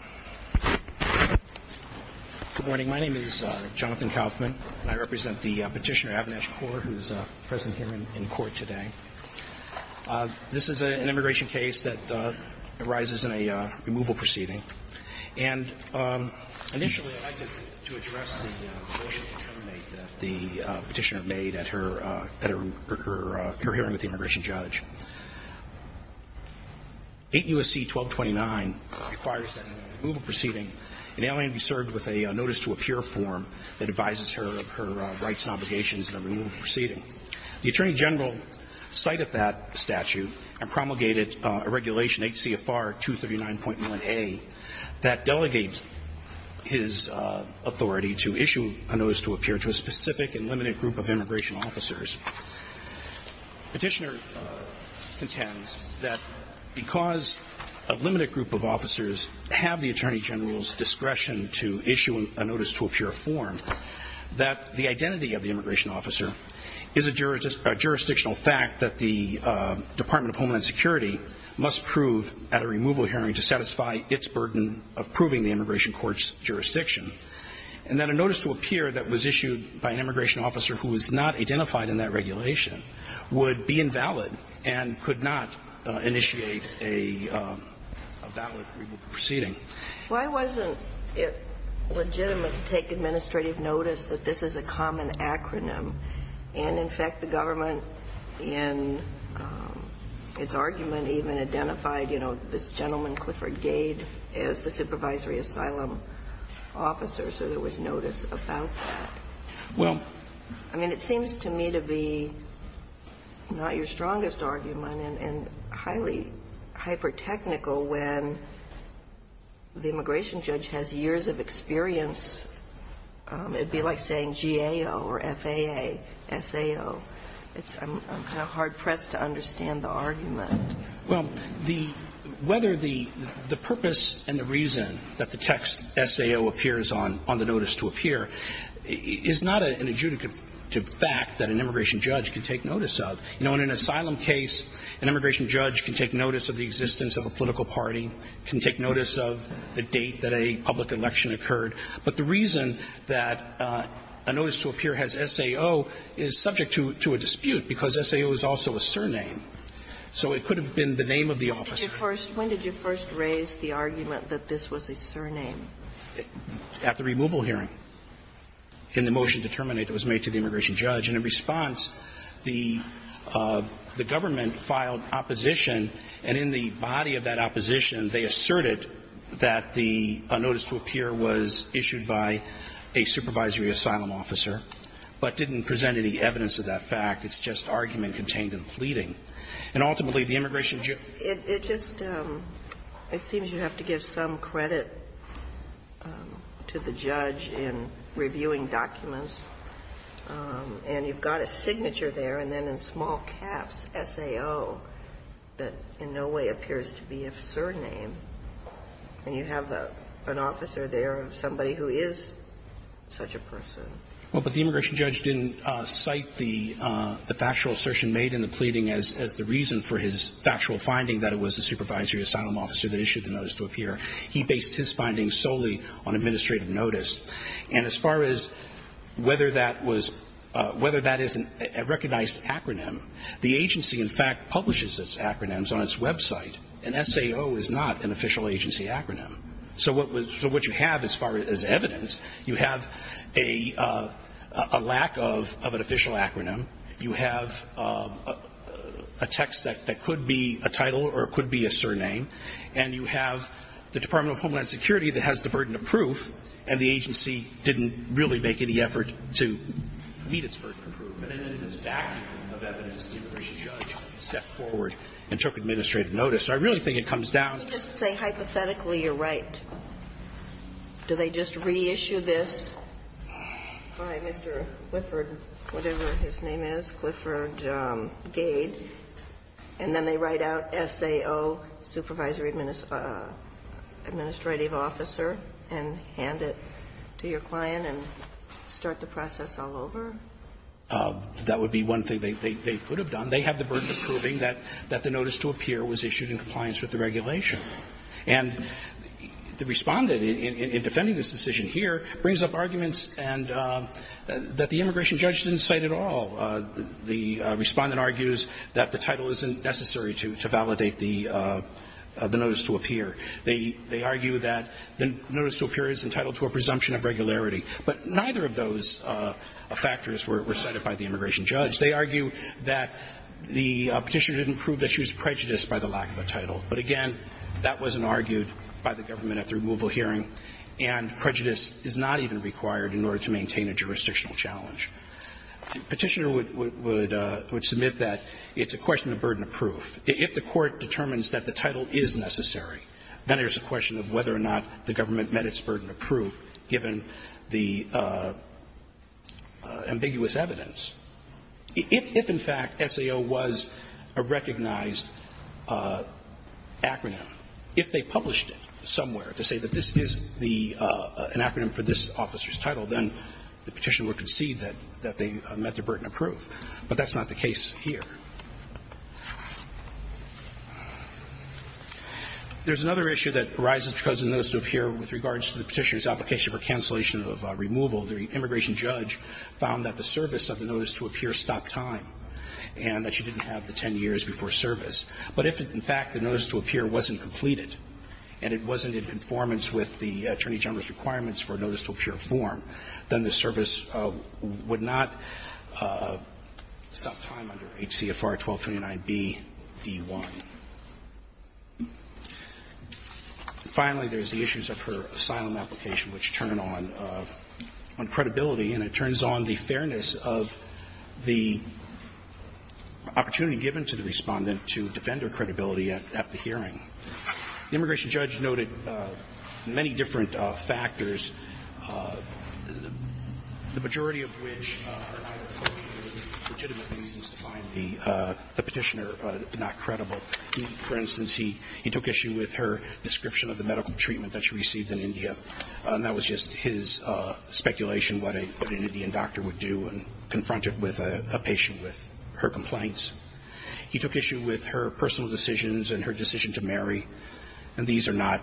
Good morning, my name is Jonathan Kaufman and I represent the petitioner Avinash Kaur who is present here in court today. This is an immigration case that arises in a removal proceeding. And initially I'd like to address the motion to terminate that the petitioner made at her hearing with the immigration judge. 8 U.S.C. 1229 requires that in a removal proceeding an alien be served with a notice to appear form that advises her of her rights and obligations in a removal proceeding. The attorney general cited that statute and promulgated a regulation 8 CFR 239.1a that delegates his authority to issue a notice to appear to a specific and limited group of immigration officers. Petitioner contends that because a limited group of officers have the attorney general's discretion to issue a notice to appear form, that the identity of the immigration officer is a jurisdictional fact that the Department of Homeland Security must prove at a removal hearing to satisfy its burden of proving the immigration court's jurisdiction. And that a notice to appear that was issued by an immigration officer who was not identified in that regulation would be invalid and could not initiate a valid removal proceeding. Why wasn't it legitimate to take administrative notice that this is a common acronym? And, in fact, the government in its argument even identified, you know, this gentleman, Clifford Gade, as the supervisory asylum officer, so there was notice about that. Well. I mean, it seems to me to be not your strongest argument and highly hyper-technical when the immigration judge has years of experience. It would be like saying GAO or FAA, SAO. I'm kind of hard-pressed to understand the argument. Well, whether the purpose and the reason that the text SAO appears on the notice to appear is not an adjudicative fact that an immigration judge can take notice of. You know, in an asylum case, an immigration judge can take notice of the existence of a political party, can take notice of the date that a public election occurred. But the reason that a notice to appear has SAO is subject to a dispute because SAO is also a surname. So it could have been the name of the officer. When did you first raise the argument that this was a surname? At the removal hearing in the motion to terminate that was made to the immigration judge. And in response, the government filed opposition. And in the body of that opposition, they asserted that the notice to appear was issued by a supervisory asylum officer, but didn't present any evidence of that fact. It's just argument contained in pleading. And ultimately, the immigration judge. It just seems you have to give some credit to the judge in reviewing documents. And you've got a signature there, and then in small caps, SAO, that in no way appears to be a surname. And you have an officer there of somebody who is such a person. Well, but the immigration judge didn't cite the factual assertion made in the pleading as the reason for his factual finding that it was a supervisory asylum officer that issued the notice to appear. He based his findings solely on administrative notice. And as far as whether that is a recognized acronym, the agency, in fact, publishes its acronyms on its website, and SAO is not an official agency acronym. So what you have as far as evidence, you have a lack of an official acronym. You have a text that could be a title or it could be a surname. And you have the Department of Homeland Security that has the burden of proof, and the agency didn't really make any effort to meet its burden of proof. And in this vacuum of evidence, the immigration judge stepped forward and took administrative notice. So I really think it comes down to the fact that the agency is not an official agency. notice. And if you were to take it and hand it to your client and start the process all over? That would be one thing they could have done. They have the burden of proving that the notice to appear was issued in compliance with the regulation. And the Respondent, in defending this decision here, brings up arguments that the immigration judge didn't cite at all. The Respondent argues that the title isn't necessary to validate the notice to appear. They argue that the notice to appear is entitled to a presumption of regularity. But neither of those factors were cited by the immigration judge. They argue that the Petitioner didn't prove that she was prejudiced by the lack of a title. But again, that wasn't argued by the government at the removal hearing, and prejudice is not even required in order to maintain a jurisdictional challenge. The Petitioner would submit that it's a question of burden of proof. If the Court determines that the title is necessary, then there's a question of whether or not the government met its burden of proof given the ambiguous evidence. If, in fact, SAO was a recognized acronym, if they published it somewhere to say that this is the an acronym for this officer's title, then the Petitioner would concede that they met their burden of proof. But that's not the case here. There's another issue that arises because of the notice to appear with regards to the Petitioner's application for cancellation of removal. The immigration judge found that the service of the notice to appear stopped time and that she didn't have the 10 years before service. But if, in fact, the notice to appear wasn't completed and it wasn't in conformance with the Attorney General's requirements for a notice to appear form, then the service would not stop time under HCFR-1229B-D1. Finally, there's the issues of her asylum application, which turn on credibility. And it turns on the fairness of the opportunity given to the Respondent to defend her credibility at the hearing. The immigration judge noted many different factors, the majority of which are not legitimate reasons to find the Petitioner not credible. For instance, he took issue with her description of the medical treatment that she received in India, and that was just his speculation what an Indian doctor would do and confront it with a patient with her complaints. He took issue with her personal decisions and her decision to marry. And these are not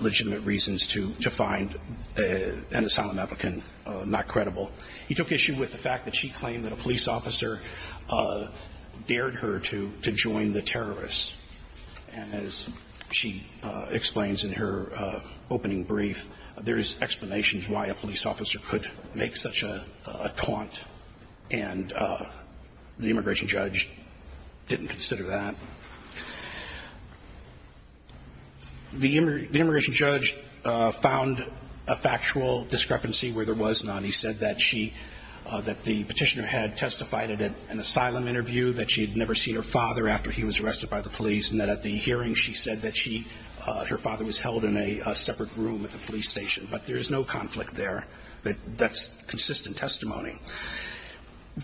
legitimate reasons to find an asylum applicant not credible. He took issue with the fact that she claimed that a police officer dared her to join the terrorists. And as she explains in her opening brief, there's explanations why a police officer could make such a taunt, and the immigration judge didn't consider that. The immigration judge found a factual discrepancy where there was none. He said that she, that the Petitioner had testified at an asylum interview, that she had never seen her father after he was arrested by the police, and that at the hearing she said that she, her father was held in a separate room at the police station. But there's no conflict there. That's consistent testimony.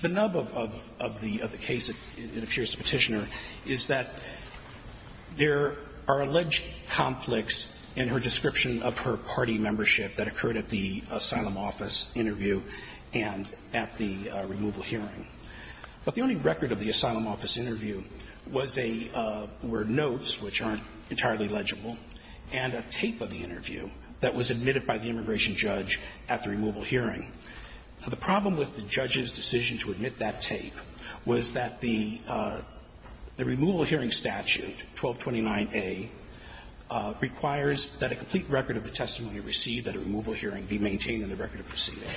The nub of the case, it appears to Petitioner, is that there are alleged conflicts in her description of her party membership that occurred at the asylum office interview and at the removal hearing. But the only record of the asylum office interview was a, were notes, which aren't entirely legible, and a tape of the interview that was admitted by the immigration judge at the removal hearing. The problem with the judge's decision to admit that tape was that the, the removal hearing statute, 1229a, requires that a complete record of the testimony received at a removal hearing be maintained in the record of proceeding.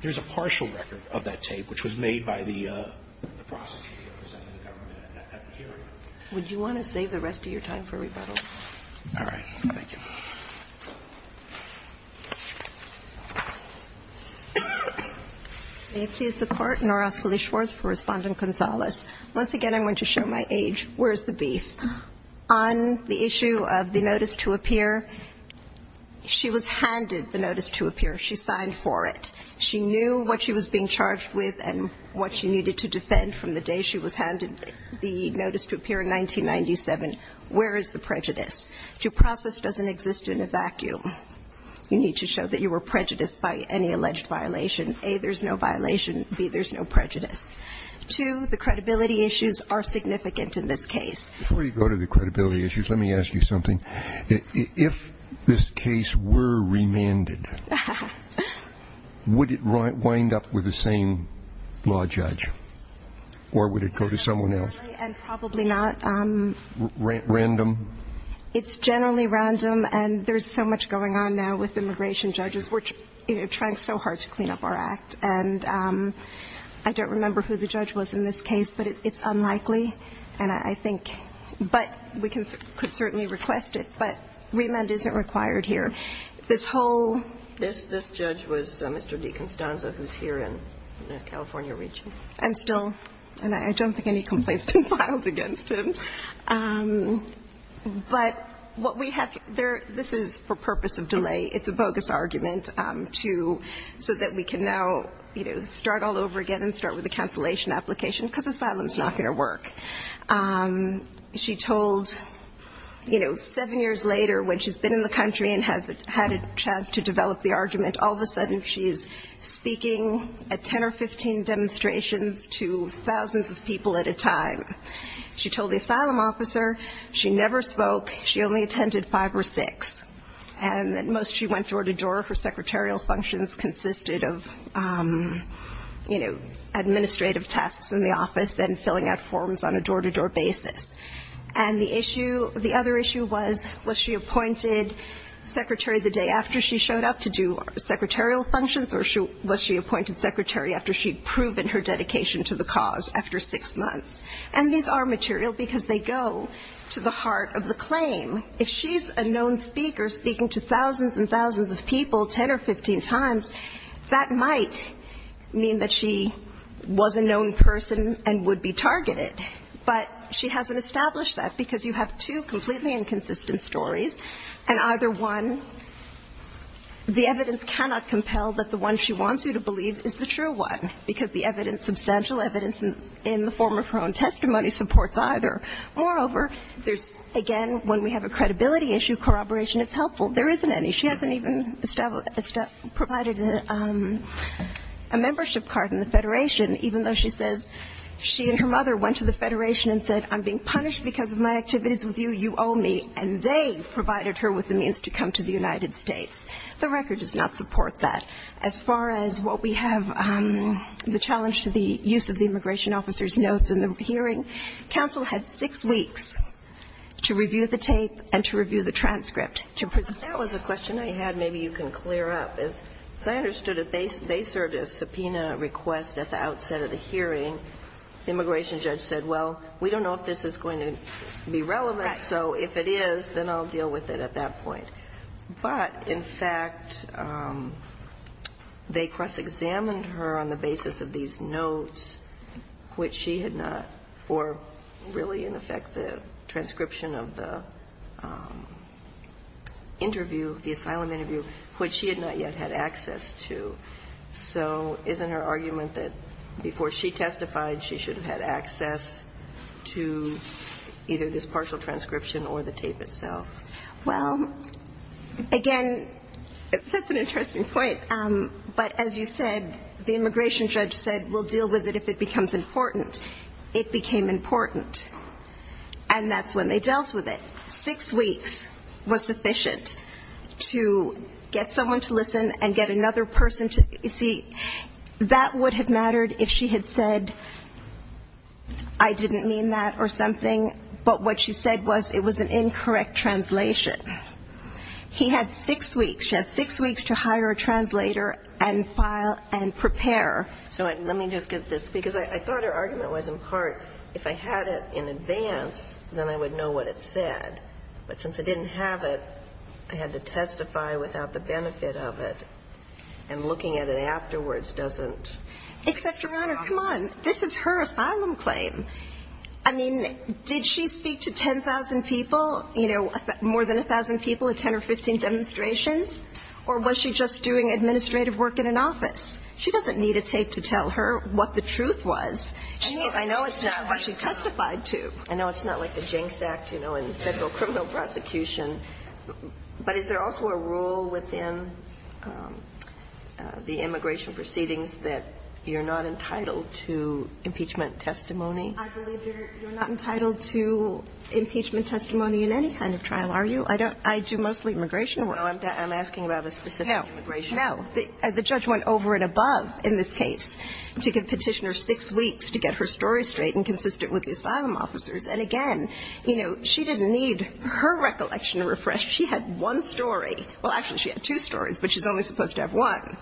There's a partial record of that tape which was made by the prosecutor representing the government at the hearing. Would you want to save the rest of your time for rebuttals? All right. Thank you. May it please the Court. Noroskele Schwarz for Respondent Gonzales. Once again, I'm going to show my age. Where's the beef? On the issue of the notice to appear, she was handed the notice to appear. She signed for it. She knew what she was being charged with and what she needed to defend from the day she was handed the notice to appear in 1997. Where is the prejudice? Your process doesn't exist in a vacuum. You need to show that you were prejudiced by any alleged violation. A, there's no violation. B, there's no prejudice. Two, the credibility issues are significant in this case. Before you go to the credibility issues, let me ask you something. If this case were remanded, would it wind up with the same law judge? Or would it go to someone else? Probably not. Random? It's generally random. And there's so much going on now with immigration judges. We're trying so hard to clean up our act. And I don't remember who the judge was in this case, but it's unlikely. And I think we could certainly request it. But remand isn't required here. This whole ---- This judge was Mr. DeCostanza, who's here in the California region. And still, I don't think any complaints have been filed against him. But what we have here, this is for purpose of delay. It's a bogus argument so that we can now start all over again and start with a cancellation application, because asylum is not going to work. She told, you know, seven years later, when she's been in the country and has had a chance to develop the argument, all of a sudden she's speaking at 10 or 15 demonstrations to thousands of people at a time. She told the asylum officer she never spoke. She only attended five or six. And that most she went door to door. Her secretarial functions consisted of, you know, administrative tasks in the office and filling out forms on a door-to-door basis. And the issue, the other issue was, was she appointed secretary the day after she showed up to do secretarial functions or was she appointed secretary after she'd proven her dedication to the cause after six months? And these are material because they go to the heart of the claim. If she's a known speaker speaking to thousands and thousands of people 10 or 15 times, that might mean that she was a known person and would be targeted. But she hasn't established that because you have two completely inconsistent stories, and either one, the evidence cannot compel that the one she wants you to believe is the true one, because the evidence, substantial evidence in the form of her own testimony supports either. Moreover, there's, again, when we have a credibility issue, corroboration is helpful. There isn't any. She hasn't even provided a membership card in the Federation, even though she says she and her mother went to the Federation and said, I'm being punished because of my activities with you, you owe me, and they provided her with the means to come to the United States. The record does not support that. As far as what we have, the challenge to the use of the immigration officer's notes in the hearing, counsel had six weeks to review the tape and to review the transcript to present. But that was a question I had. Maybe you can clear up. As I understood it, they served a subpoena request at the outset of the hearing. The immigration judge said, well, we don't know if this is going to be relevant, so if it is, then I'll deal with it at that point. But, in fact, they cross-examined her on the basis of these notes, which she had not or really, in effect, the transcription of the interview, the asylum interview, which she had not yet had access to. So isn't her argument that before she testified, she should have had access to either this partial transcription or the tape itself? Well, again, that's an interesting point. But as you said, the immigration judge said, we'll deal with it if it becomes important. It became important. And that's when they dealt with it. Six weeks was sufficient to get someone to listen and get another person to see. That would have mattered if she had said, I didn't mean that or something, but what she said was it was an incorrect translation. He had six weeks. She had six weeks to hire a translator and file and prepare. So let me just get this. Because I thought her argument was, in part, if I had it in advance, then I would know what it said. But since I didn't have it, I had to testify without the benefit of it. And looking at it afterwards doesn't help. Except, Your Honor, come on. This is her asylum claim. I mean, did she speak to 10,000 people, you know, more than 1,000 people at 10 or 15 demonstrations? Or was she just doing administrative work in an office? She doesn't need a tape to tell her what the truth was. I know it's not what she testified to. I know it's not like the Jenks Act, you know, in Federal criminal prosecution. But is there also a rule within the immigration proceedings that you're not entitled to impeachment testimony? I believe you're not entitled to impeachment testimony in any kind of trial, are you? I do mostly immigration work. No, I'm asking about a specific immigration case. No. The judge went over and above in this case to give Petitioner six weeks to get her story straight and consistent with the asylum officers. And again, you know, she didn't need her recollection refreshed. She had one story. Well, actually, she had two stories, but she's only supposed to have one.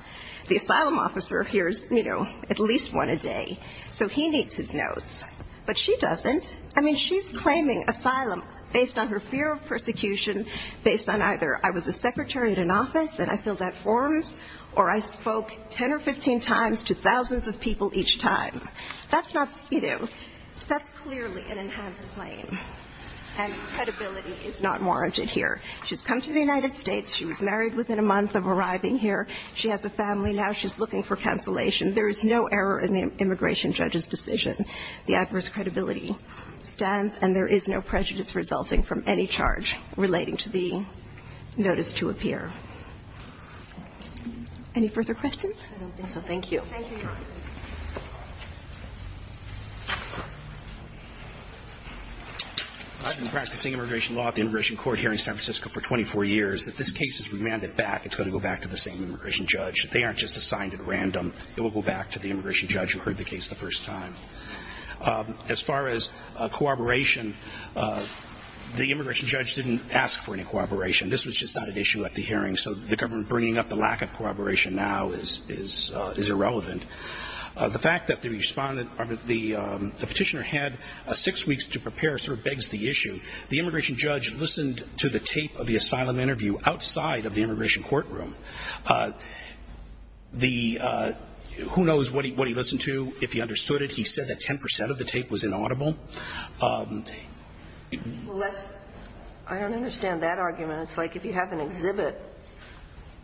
The asylum officer hears, you know, at least one a day. So he needs his notes. But she doesn't. I mean, she's claiming asylum based on her fear of persecution, based on either I was a secretary at an office and I filled out forms, or I spoke 10 or 15 times to thousands of people each time. That's not, you know, that's clearly an enhanced claim. And credibility is not warranted here. She's come to the United States. She was married within a month of arriving here. She has a family now. She's looking for cancellation. There is no error in the immigration judge's decision. The adverse credibility stands, and there is no prejudice resulting from any charge relating to the notice to appear. Any further questions? So thank you. I've been practicing immigration law at the Immigration Court here in San Francisco for 24 years. If this case is remanded back, it's going to go back to the same immigration judge. They aren't just assigned at random. It will go back to the immigration judge who heard the case the first time. As far as corroboration, the immigration judge didn't ask for any corroboration. This was just not an issue at the hearing, so the government bringing up the lack of corroboration now is irrelevant. The fact that the petitioner had six weeks to prepare sort of begs the issue. The immigration judge listened to the tape of the asylum interview outside of the immigration courtroom. Who knows what he listened to, if he understood it. He said that 10 percent of the tape was inaudible. I don't understand that argument. It's like if you have an exhibit,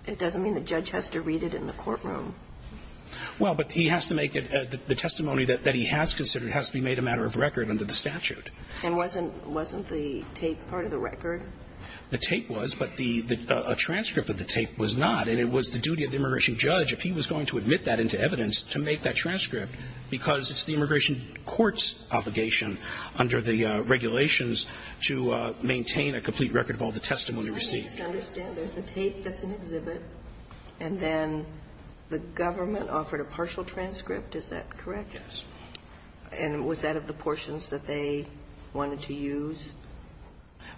it doesn't mean the judge has to read it in the courtroom. Well, but he has to make it the testimony that he has considered has to be made a matter of record under the statute. And wasn't the tape part of the record? The tape was, but a transcript of the tape was not. And it was the duty of the immigration judge, if he was going to admit that into evidence, to make that transcript, because it's the immigration court's obligation under the regulations to maintain a complete record of all the testimony received. I don't understand. There's a tape that's an exhibit, and then the government offered a partial transcript. Is that correct? Yes. And was that of the portions that they wanted to use?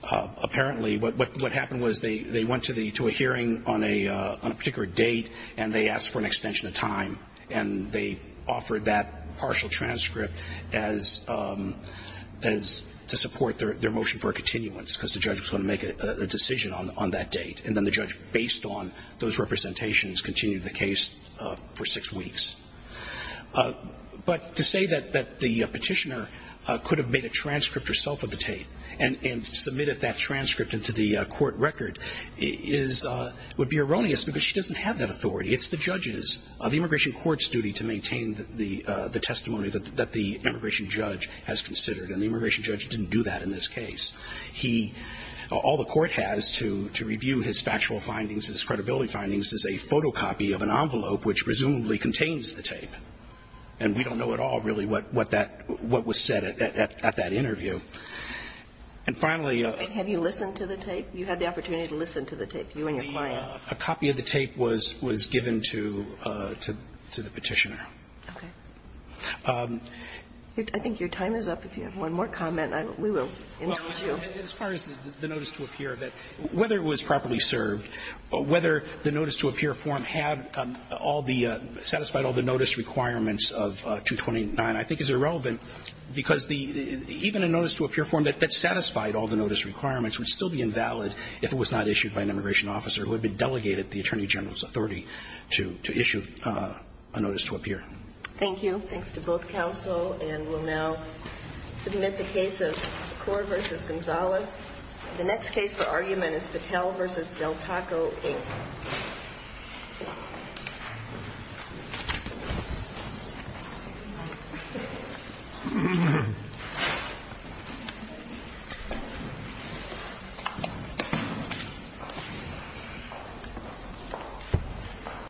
Apparently. What happened was they went to a hearing on a particular date, and they asked for an extension of time. And they offered that partial transcript as to support their motion for a continuance, because the judge was going to make a decision on that date. And then the judge, based on those representations, continued the case for six weeks. But to say that the petitioner could have made a transcript herself of the tape and submitted that transcript into the court record is – would be erroneous, because she doesn't have that authority. It's the judge's – the immigration court's duty to maintain the testimony that the immigration judge has considered. And the immigration judge didn't do that in this case. He – all the court has to review his factual findings, his credibility findings, is a photocopy of an envelope which presumably contains the tape. And we don't know at all, really, what that – what was said at that interview. And finally – Wait. Have you listened to the tape? You had the opportunity to listen to the tape, you and your client. A copy of the tape was – was given to – to the petitioner. Okay. I think your time is up. If you have one more comment, we will interrupt you. As far as the notice to appear, whether it was properly served, whether the notice to appear form had all the – satisfied all the notice requirements of 229 I think is irrelevant, because the – even a notice to appear form that satisfied all the notice requirements would still be invalid if it was not issued by an immigration officer who had been delegated the Attorney General's authority to – to issue a notice to appear. Thank you. Thanks to both counsel. And we'll now submit the case of Korr v. Gonzales. The next case for argument is Patel v. Del Taco, Inc. Thank you.